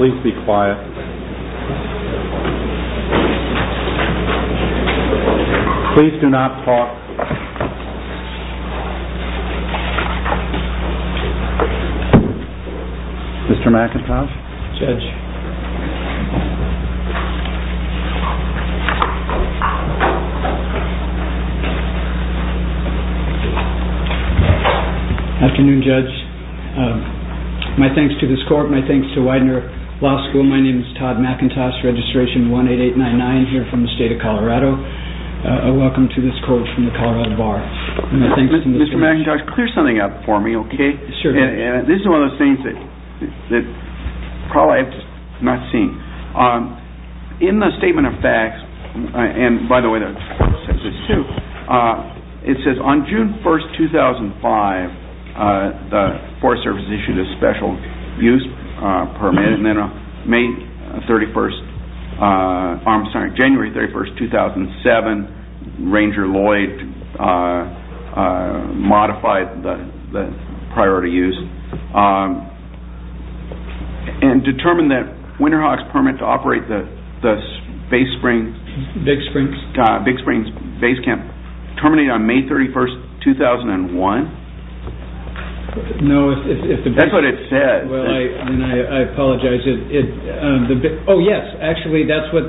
Please be quiet. Please do not talk. Mr. McIntosh? My thanks to this court. My thanks to Widener Law School. My name is Todd McIntosh, Registration 18899 here from the state of Colorado. Welcome to this court from the Colorado Bar. Mr. McIntosh, clear something up for me. This is one of those things that I have not seen. In the Statement of Facts, it says on June 1, 2005, the Forest Service issued a special use permit. Then on January 31, 2007, Ranger Lloyd modified the priority use and determined that Winterhawk's permit to operate the Big Springs Base Camp terminated on May 31, 2001. No, that's what it said. I apologize. Oh yes, actually, that's what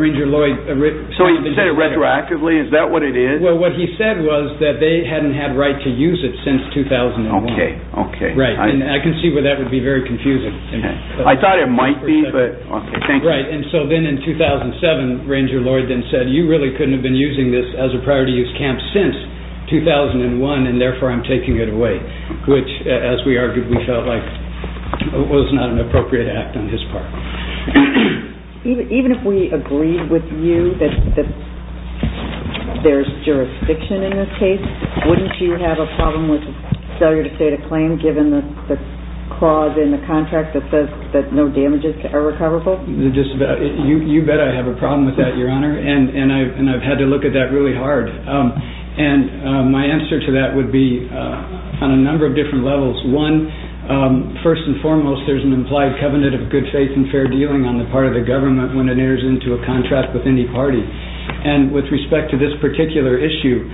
Ranger Lloyd said. So he said it retroactively? Is that what it is? Well, what he said was that they hadn't had right to use it since 2001. I can see where that would be very confusing. I thought it might be. Right, and so then in 2007, Ranger Lloyd then said, you really couldn't have been using this as a priority use camp since 2001 and therefore I'm taking it away. Which, as we argued, we felt like was not an appropriate act on his part. Even if we agreed with you that there's jurisdiction in this case, wouldn't you have a problem with failure to state a claim given the clause in the contract that says that no damages are recoverable? You bet I have a problem with that, Your Honor, and I've had to look at that really hard. And my answer to that would be on a number of different levels. One, first and foremost, there's an implied covenant of good faith and fair dealing on the part of the government when it enters into a contract with any party. And with respect to this particular issue,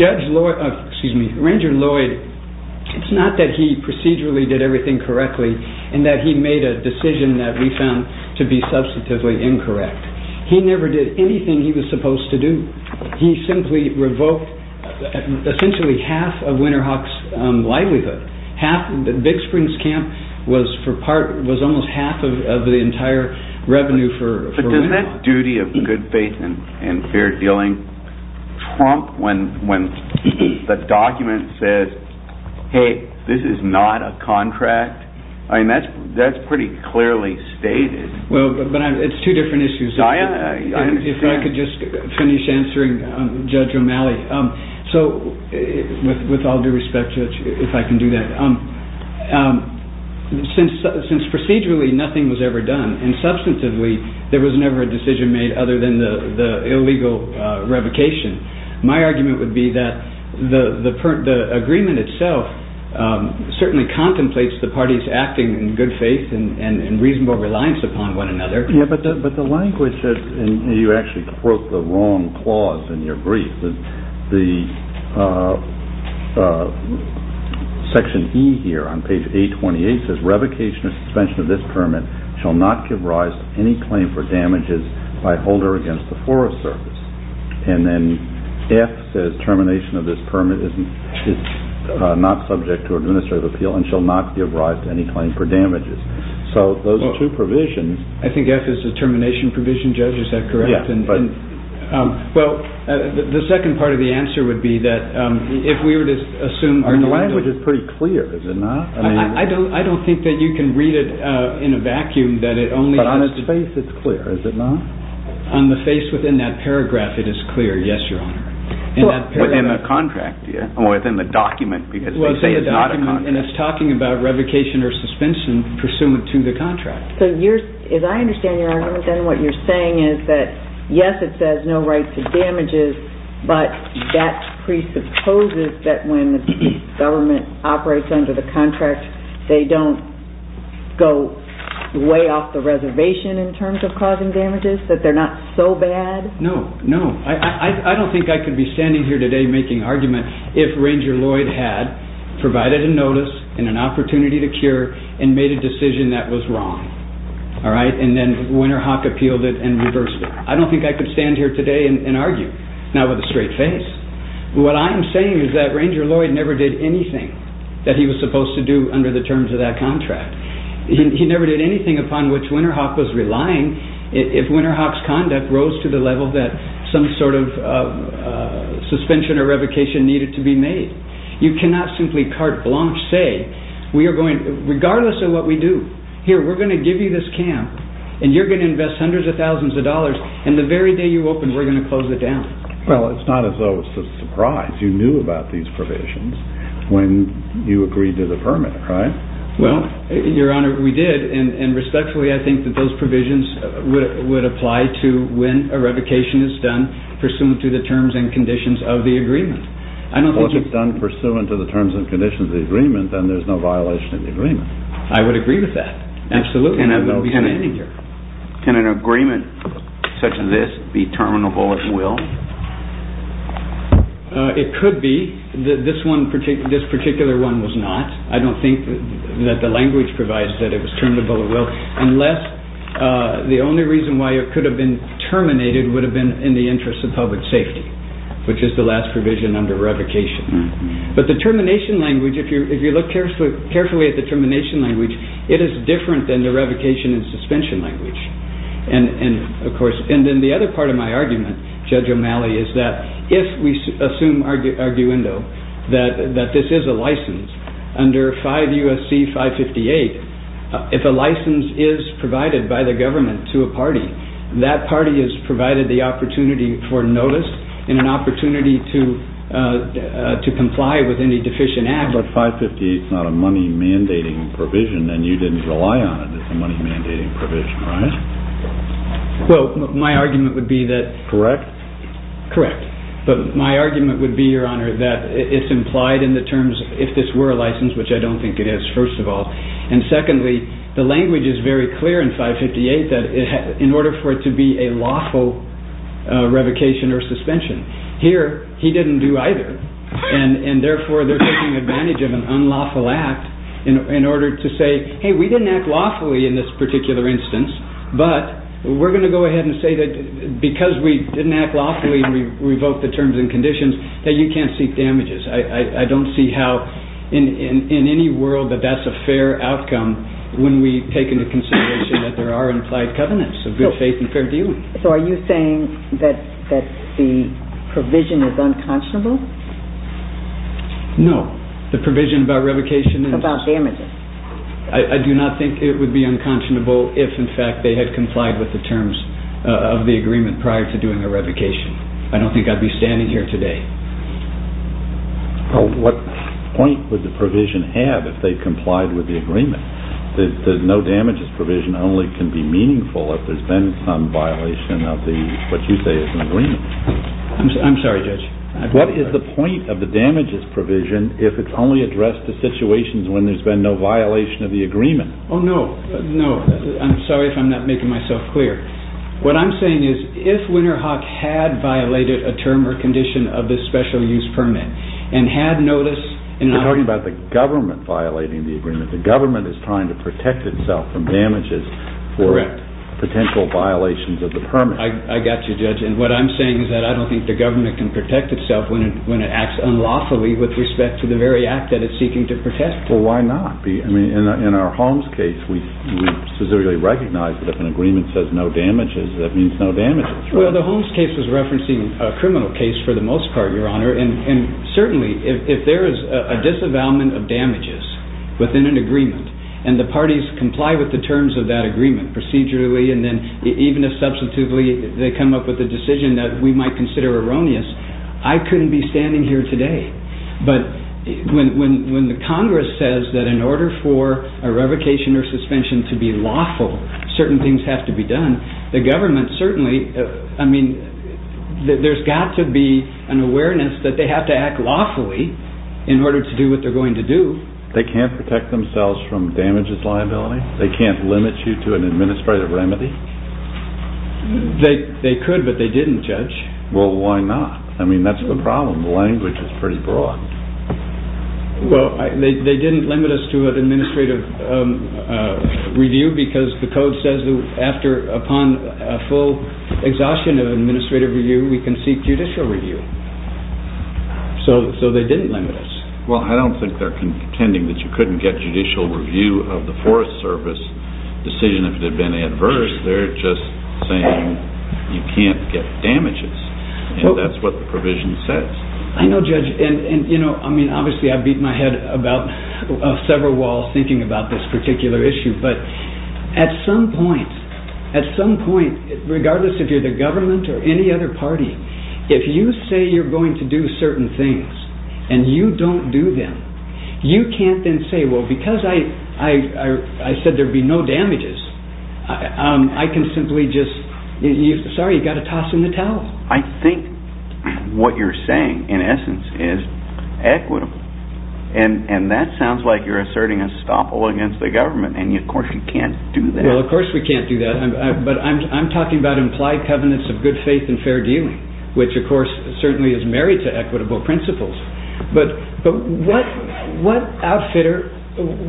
Ranger Lloyd, it's not that he procedurally did everything correctly and that he made a decision that we found to be substantively incorrect. He never did anything he was supposed to do. He simply revoked essentially half of Winterhawk's livelihood. Big Springs Camp was almost half of the entire revenue for Winterhawk. Doesn't that duty of good faith and fair dealing trump when the document says, hey, this is not a contract? That's pretty clearly stated. Well, but it's two different issues. If I could just finish answering Judge O'Malley. So with all due respect, if I can do that, since procedurally nothing was ever done and substantively there was never a decision made other than the illegal revocation, my argument would be that the agreement itself certainly contemplates the parties acting in good faith and reasonable reliance upon one another. But the language, and you actually quote the wrong clause in your brief, section E here on page 828 says, revocation or suspension of this permit shall not give rise to any claim for damages by holder against the Forest Service. And then F says termination of this permit is not subject to administrative appeal and shall not give rise to any claim for damages. So those are two provisions. I think F is the termination provision, Judge, is that correct? Yeah. Well, the second part of the answer would be that if we were to assume... The language is pretty clear, is it not? I don't think that you can read it in a vacuum that it only has... But on its face it's clear, is it not? On the face within that paragraph it is clear, yes, Your Honor. Within the contract, yeah, or within the document because they say it's not a contract. And it's talking about revocation or suspension pursuant to the contract. So as I understand your argument then what you're saying is that, yes, it says no right to damages, but that presupposes that when the government operates under the contract they don't go way off the reservation in terms of causing damages, that they're not so bad? No, no. I don't think I could be standing here today making argument if Ranger Lloyd had provided a notice and an opportunity to cure and made a decision that was wrong, all right, and then Winterhawk appealed it and reversed it. I don't think I could stand here today and argue, not with a straight face. What I am saying is that Ranger Lloyd never did anything that he was supposed to do under the terms of that contract. He never did anything upon which Winterhawk was relying if Winterhawk's conduct rose to the level that some sort of suspension or revocation needed to be made. You cannot simply carte blanche say, regardless of what we do, here, we're going to give you this camp and you're going to invest hundreds of thousands of dollars and the very day you open we're going to close it down. Well, it's not as though it's a surprise you knew about these provisions when you agreed to the permit, right? Well, Your Honor, we did, and respectfully I think that those provisions would apply to when a revocation is done pursuant to the terms and conditions of the agreement. Well, if it's done pursuant to the terms and conditions of the agreement, then there's no violation of the agreement. I would agree with that, absolutely. I wouldn't be standing here. Can an agreement such as this be terminable at will? It could be. This particular one was not. I don't think that the language provides that it was terminable at will unless the only reason why it could have been terminated would have been in the interest of public safety, which is the last provision under revocation. But the termination language, if you look carefully at the termination language, it is different than the revocation and suspension language. And then the other part of my argument, Judge O'Malley, is that if we assume arguendo that this is a license under 5 U.S.C. 558, if a license is provided by the government to a party, that party is provided the opportunity for notice and an opportunity to comply with any deficient act. But 558 is not a money mandating provision, and you didn't rely on it as a money mandating provision, right? Well, my argument would be that... Correct? Correct. But my argument would be, Your Honor, that it's implied in the terms if this were a license, which I don't think it is, first of all. And secondly, the language is very clear in 558 that in order for it to be a lawful revocation or suspension. Here, he didn't do either. And therefore, they're taking advantage of an unlawful act in order to say, hey, we didn't act lawfully in this particular instance, but we're going to go ahead and say that because we didn't act lawfully and revoke the terms and conditions, that you can't seek damages. I don't see how in any world that that's a fair outcome when we take into consideration that there are implied covenants of good faith and fair dealing. So are you saying that the provision is unconscionable? No. The provision about revocation? About damages. I do not think it would be unconscionable if, in fact, they had complied with the terms of the agreement prior to doing a revocation. I don't think I'd be standing here today. What point would the provision have if they complied with the agreement? The no damages provision only can be meaningful if there's been some violation of what you say is an agreement. I'm sorry, Judge. What is the point of the damages provision if it's only addressed to situations when there's been no violation of the agreement? Oh, no. No. I'm sorry if I'm not making myself clear. What I'm saying is if Winterhawk had violated a term or condition of this special use permit and had noticed You're talking about the government violating the agreement. The government is trying to protect itself from damages for potential violations of the permit. I got you, Judge. And what I'm saying is that I don't think the government can protect itself when it acts unlawfully with respect to the very act that it's seeking to protect. Well, why not? I mean, in our Holmes case, we specifically recognize that if an agreement says no damages, that means no damages. Well, the Holmes case is referencing a criminal case for the most part, Your Honor. And certainly, if there is a disavowalment of damages within an agreement and the parties comply with the terms of that agreement procedurally and then even if substitutely they come up with a decision that we might consider erroneous, I couldn't be standing here today. But when the Congress says that in order for a revocation or suspension to be lawful, certain things have to be done, the government certainly, I mean, there's got to be an awareness that they have to act lawfully in order to do what they're going to do. They can't protect themselves from damages liability. They can't limit you to an administrative remedy? They could, but they didn't, Judge. Well, why not? I mean, that's the problem. The language is pretty broad. Well, they didn't limit us to an administrative review because the code says that after upon a full exhaustion of administrative review, we can seek judicial review. So they didn't limit us. Well, I don't think they're contending that you couldn't get judicial review of the Forest Service decision if it had been adverse. They're just saying you can't get damages and that's what the provision says. I know, Judge, and, you know, I mean, obviously I've beat my head about several walls thinking about this particular issue, but at some point, at some point, regardless if you're the government or any other party, if you say you're going to do certain things and you don't do them, you can't then say, well, because I said there'd be no damages, I can simply just, sorry, you've got to toss in the towel. I think what you're saying, in essence, is equitable, and that sounds like you're asserting estoppel against the government, and, of course, you can't do that. Well, of course we can't do that, but I'm talking about implied covenants of good faith and fair dealing, which, of course, certainly is married to equitable principles. But what outfitter,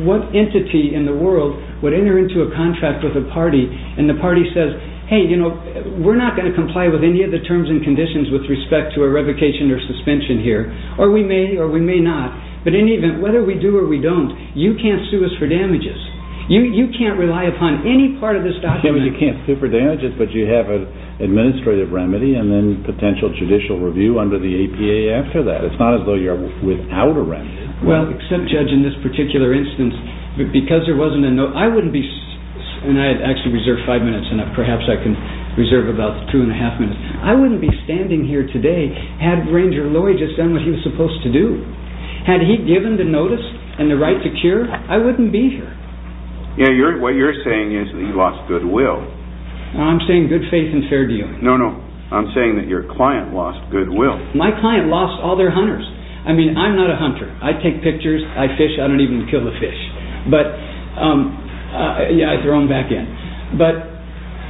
what entity in the world would enter into a contract with a party and the party says, hey, you know, we're not going to comply with any of the terms and conditions with respect to a revocation or suspension here, or we may or we may not, but in any event, whether we do or we don't, you can't sue us for damages. You can't rely upon any part of this document. You can't sue for damages, but you have an administrative remedy and then potential judicial review under the APA after that. It's not as though you're without a remedy. Well, except, Judge, in this particular instance, because there wasn't a note, I wouldn't be, and I had actually reserved five minutes, and perhaps I can reserve about two and a half minutes, I wouldn't be standing here today had Ranger Lowy just done what he was supposed to do. Had he given the notice and the right to cure, I wouldn't be here. Yeah, what you're saying is that you lost goodwill. I'm saying good faith and fair dealing. No, no, I'm saying that your client lost goodwill. My client lost all their hunters. I mean, I'm not a hunter. I take pictures. I fish. I don't even kill the fish, but yeah, I throw them back in. But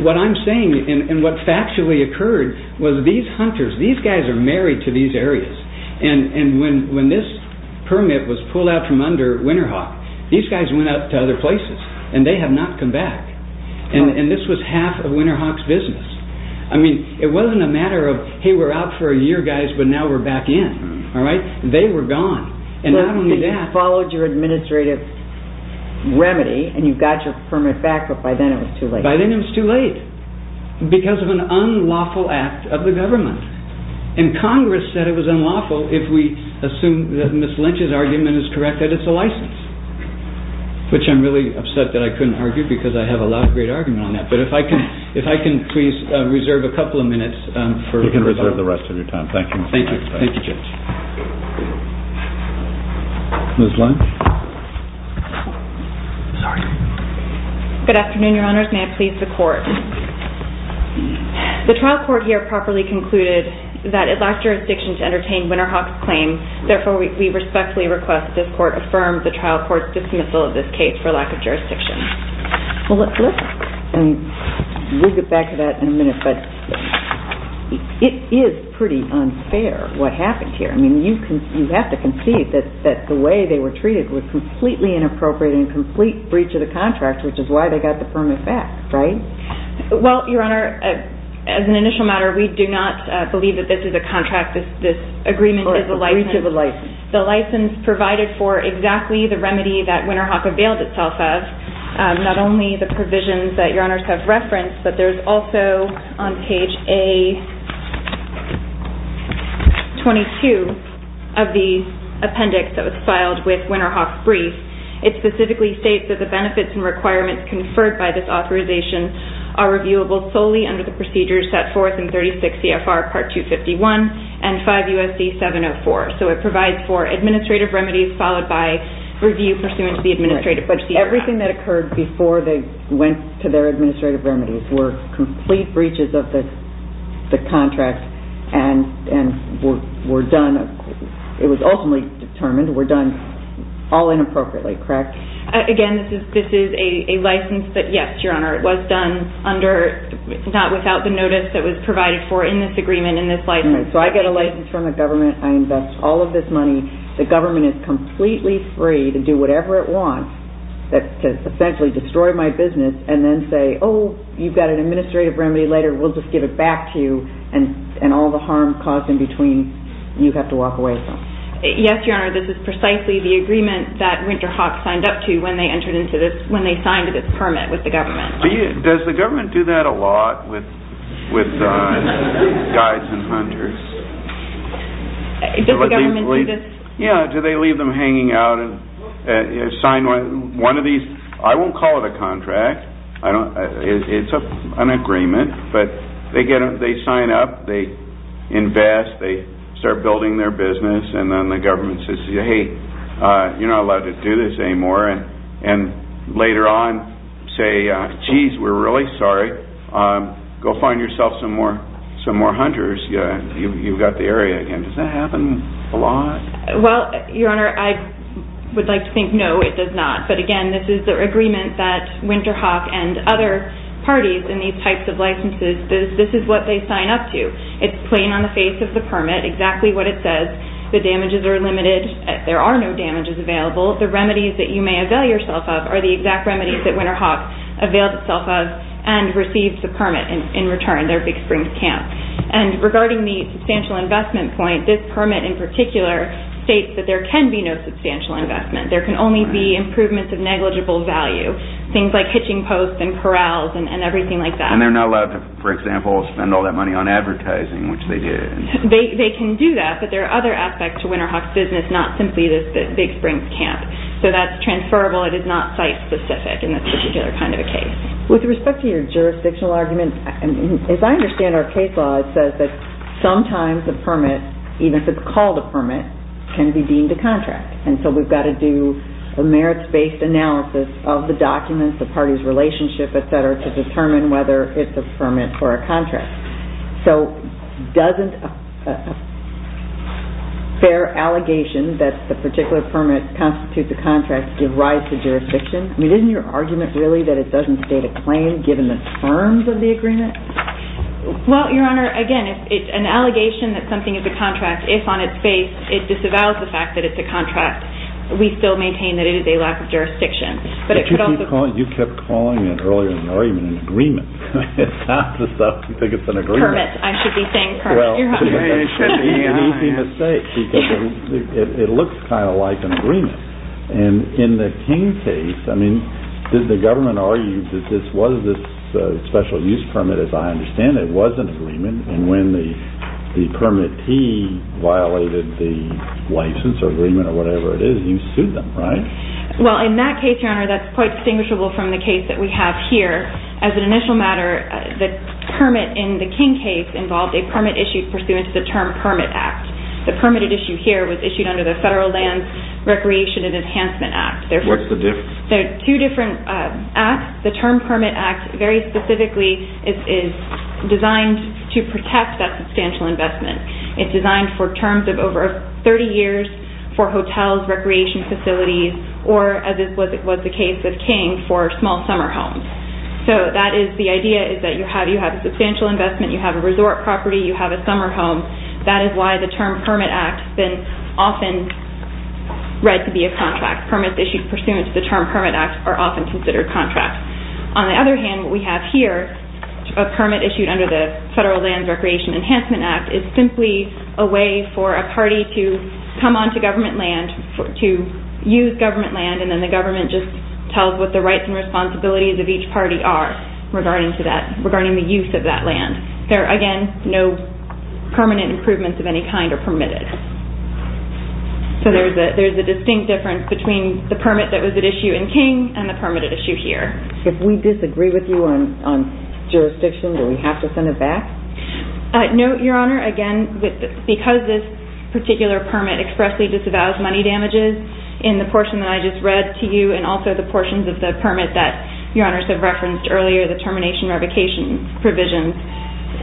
what I'm saying and what factually occurred was these hunters, these guys are married to these areas, and when this permit was pulled out from under Winterhawk, these guys went out to other places, and they have not come back, and this was half of Winterhawk's business. I mean, it wasn't a matter of, hey, we're out for a year, guys, but now we're back in. They were gone, and not only that. You followed your administrative remedy, and you got your permit back, but by then it was too late. By then it was too late because of an unlawful act of the government, and Congress said it was unlawful if we assume that Ms. Lynch's argument is correct that it's a license, which I'm really upset that I couldn't argue because I have a lot of great argument on that, but if I can please reserve a couple of minutes for rebuttal. You can reserve the rest of your time. Thank you. Thank you, Judge. Ms. Lynch. Good afternoon, Your Honors. May I please the Court? The trial court here properly concluded that it lacked jurisdiction to entertain Winterhawk's claim. Therefore, we respectfully request this Court affirm the trial court's dismissal of this case for lack of jurisdiction. Well, listen, and we'll get back to that in a minute, but it is pretty unfair what happened here. I mean, you have to concede that the way they were treated was completely inappropriate and a complete breach of the contract, which is why they got the permit back, right? Well, Your Honor, as an initial matter, we do not believe that this is a contract. This agreement is a license. The breach of the license. The license provided for exactly the remedy that Winterhawk availed itself of, not only the provisions that Your Honors have referenced, but there's also on page A22 of the appendix that was filed with Winterhawk's brief. It specifically states that the benefits and requirements conferred by this authorization are reviewable solely under the procedures set forth in 36 CFR Part 251 and 5 U.S.C. 704. So it provides for administrative remedies followed by review pursuant to the administrative procedure. Everything that occurred before they went to their administrative remedies were complete breaches of the contract and were done, it was ultimately determined, were done all inappropriately, correct? Again, this is a license that, yes, Your Honor, it was done under, not without the notice that was provided for in this agreement, in this license. So I get a license from the government, I invest all of this money, the government is completely free to do whatever it wants to essentially destroy my business and then say, oh, you've got an administrative remedy later, we'll just give it back to you and all the harm caused in between you have to walk away from. Yes, Your Honor, this is precisely the agreement that Winterhawk signed up to when they entered into this, when they signed this permit with the government. Does the government do that a lot with guides and hunters? Does the government do this? Yeah, do they leave them hanging out and sign one of these, I won't call it a contract, it's an agreement, but they sign up, they invest, they start building their business and then the government says, hey, you're not allowed to do this anymore and later on say, geez, we're really sorry, go find yourself some more hunters, you've got the area again, does that happen a lot? Well, Your Honor, I would like to think no, it does not, but again, this is the agreement that Winterhawk and other parties in these types of licenses, this is what they sign up to. It's plain on the face of the permit exactly what it says, the damages are limited, there are no damages available, the remedies that you may avail yourself of are the exact remedies that Winterhawk availed itself of and received the permit in return, their Big Springs Camp. And regarding the substantial investment point, this permit in particular states that there can be no substantial investment, there can only be improvements of negligible value, things like hitching posts and corrals and everything like that. And they're not allowed to, for example, spend all that money on advertising, which they did. They can do that, but there are other aspects to Winterhawk's business, not simply this Big Springs Camp, so that's transferable, it is not site specific in this particular kind of a case. With respect to your jurisdictional argument, as I understand our case law, it says that sometimes the permit, even if it's called a permit, can be deemed a contract and so we've got to do a merits-based analysis of the documents, the party's relationship, et cetera, to determine whether it's a permit or a contract. So doesn't a fair allegation that the particular permit constitutes a contract give rise to jurisdiction? I mean, isn't your argument really that it doesn't state a claim given the terms of the agreement? Well, Your Honor, again, it's an allegation that something is a contract if on its face it disavows the fact that it's a contract, we still maintain that it is a lack of jurisdiction. But you kept calling it earlier in the argument an agreement. It's not the stuff you think it's an agreement. Permits, I should be saying permits, Your Honor. Well, it's an easy mistake because it looks kind of like an agreement. And in the King case, I mean, did the government argue that this was a special use permit? But as I understand it, it was an agreement, and when the permittee violated the license or agreement or whatever it is, you sued them, right? Well, in that case, Your Honor, that's quite distinguishable from the case that we have here. As an initial matter, the permit in the King case involved a permit issue pursuant to the Term Permit Act. The permitted issue here was issued under the Federal Lands Recreation and Enhancement Act. What's the difference? There are two different acts. The Term Permit Act, very specifically, is designed to protect that substantial investment. It's designed for terms of over 30 years for hotels, recreation facilities, or as was the case of King for small summer homes. So that is the idea is that you have a substantial investment, you have a resort property, you have a summer home. That is why the Term Permit Act has been often read to be a contract. Permits issued pursuant to the Term Permit Act are often considered contracts. On the other hand, what we have here, a permit issued under the Federal Lands Recreation and Enhancement Act, is simply a way for a party to come onto government land, to use government land, and then the government just tells what the rights and responsibilities of each party are regarding the use of that land. There are, again, no permanent improvements of any kind are permitted. So there's a distinct difference between the permit that was at issue in King and the permit at issue here. If we disagree with you on jurisdiction, do we have to send it back? No, Your Honor. Again, because this particular permit expressly disavows money damages in the portion that I just read to you and also the portions of the permit that Your Honors have referenced earlier, the termination revocation provisions,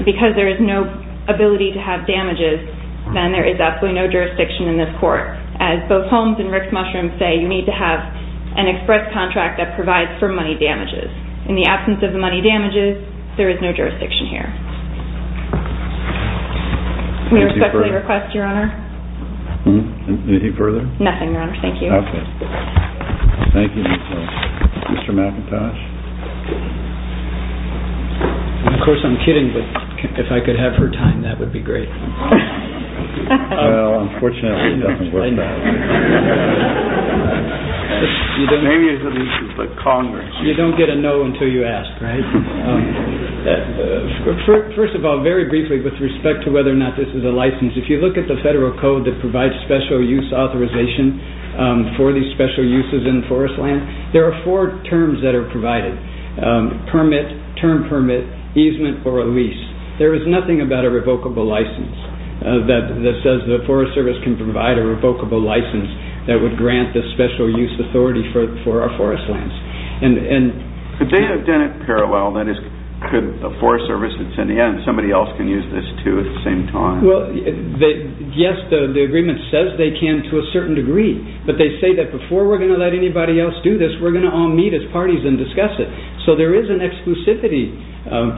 because there is no ability to have damages, then there is absolutely no jurisdiction in this court. As both Holmes and Rick Mushroom say, you need to have an express contract that provides for money damages. In the absence of the money damages, there is no jurisdiction here. We respectfully request, Your Honor. Anything further? Nothing, Your Honor. Thank you. Okay. Thank you. Mr. McIntosh. Of course, I'm kidding, but if I could have her time, that would be great. Well, unfortunately, it doesn't work that way. Maybe it's the Congress. You don't get a no until you ask, right? First of all, very briefly, with respect to whether or not this is a license, if you look at the federal code that provides special use authorization for these special uses in forest land, there are four terms that are provided. Permit, term permit, easement, or a lease. There is nothing about a revocable license that says the Forest Service can provide a revocable license that would grant the special use authority for our forest lands. Could they have done it parallel? That is, could the Forest Service and somebody else can use this, too, at the same time? Well, yes, the agreement says they can to a certain degree, but they say that before we're going to let anybody else do this, we're going to all meet as parties and discuss it. So there is an exclusivity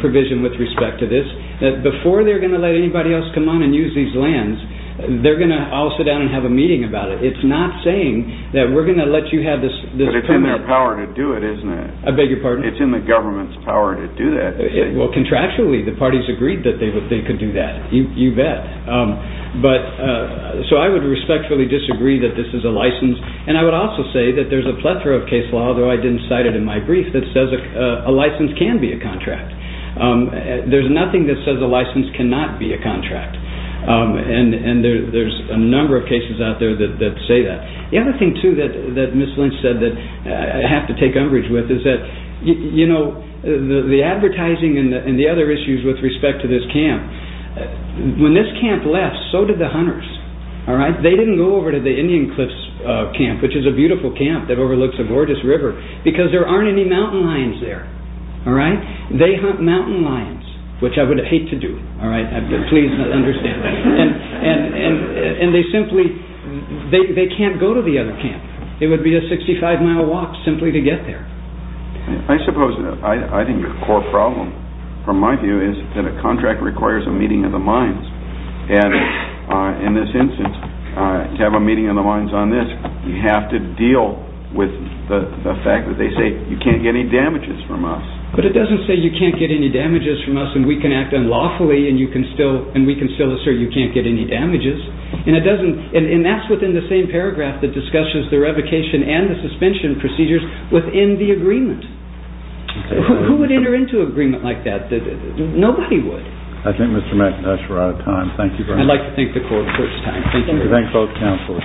provision with respect to this, that before they're going to let anybody else come on and use these lands, they're going to all sit down and have a meeting about it. It's not saying that we're going to let you have this permit. But it's in their power to do it, isn't it? I beg your pardon? It's in the government's power to do that. Well, contractually, the parties agreed that they could do that. You bet. So I would respectfully disagree that this is a license, and I would also say that there's a plethora of case law, although I didn't cite it in my brief, that says a license can be a contract. There's nothing that says a license cannot be a contract, and there's a number of cases out there that say that. The other thing, too, that Ms. Lynch said that I have to take umbrage with is that the advertising and the other issues with respect to this camp, when this camp left, so did the hunters. They didn't go over to the Indian Cliffs Camp, which is a beautiful camp that overlooks a gorgeous river, because there aren't any mountain lions there. They hunt mountain lions, which I would hate to do. Please understand. And they simply can't go to the other camp. It would be a 65-mile walk simply to get there. I suppose I think the core problem, from my view, is that a contract requires a meeting of the minds. And in this instance, to have a meeting of the minds on this, you have to deal with the fact that they say you can't get any damages from us. But it doesn't say you can't get any damages from us and we can act unlawfully and we can still assert you can't get any damages. And that's within the same paragraph that discusses the revocation and the suspension procedures within the agreement. Who would enter into an agreement like that? Nobody would. I think Mr. McIntosh, we're out of time. Thank you very much. I'd like to thank the court for its time. Thank you very much. We thank both counsels.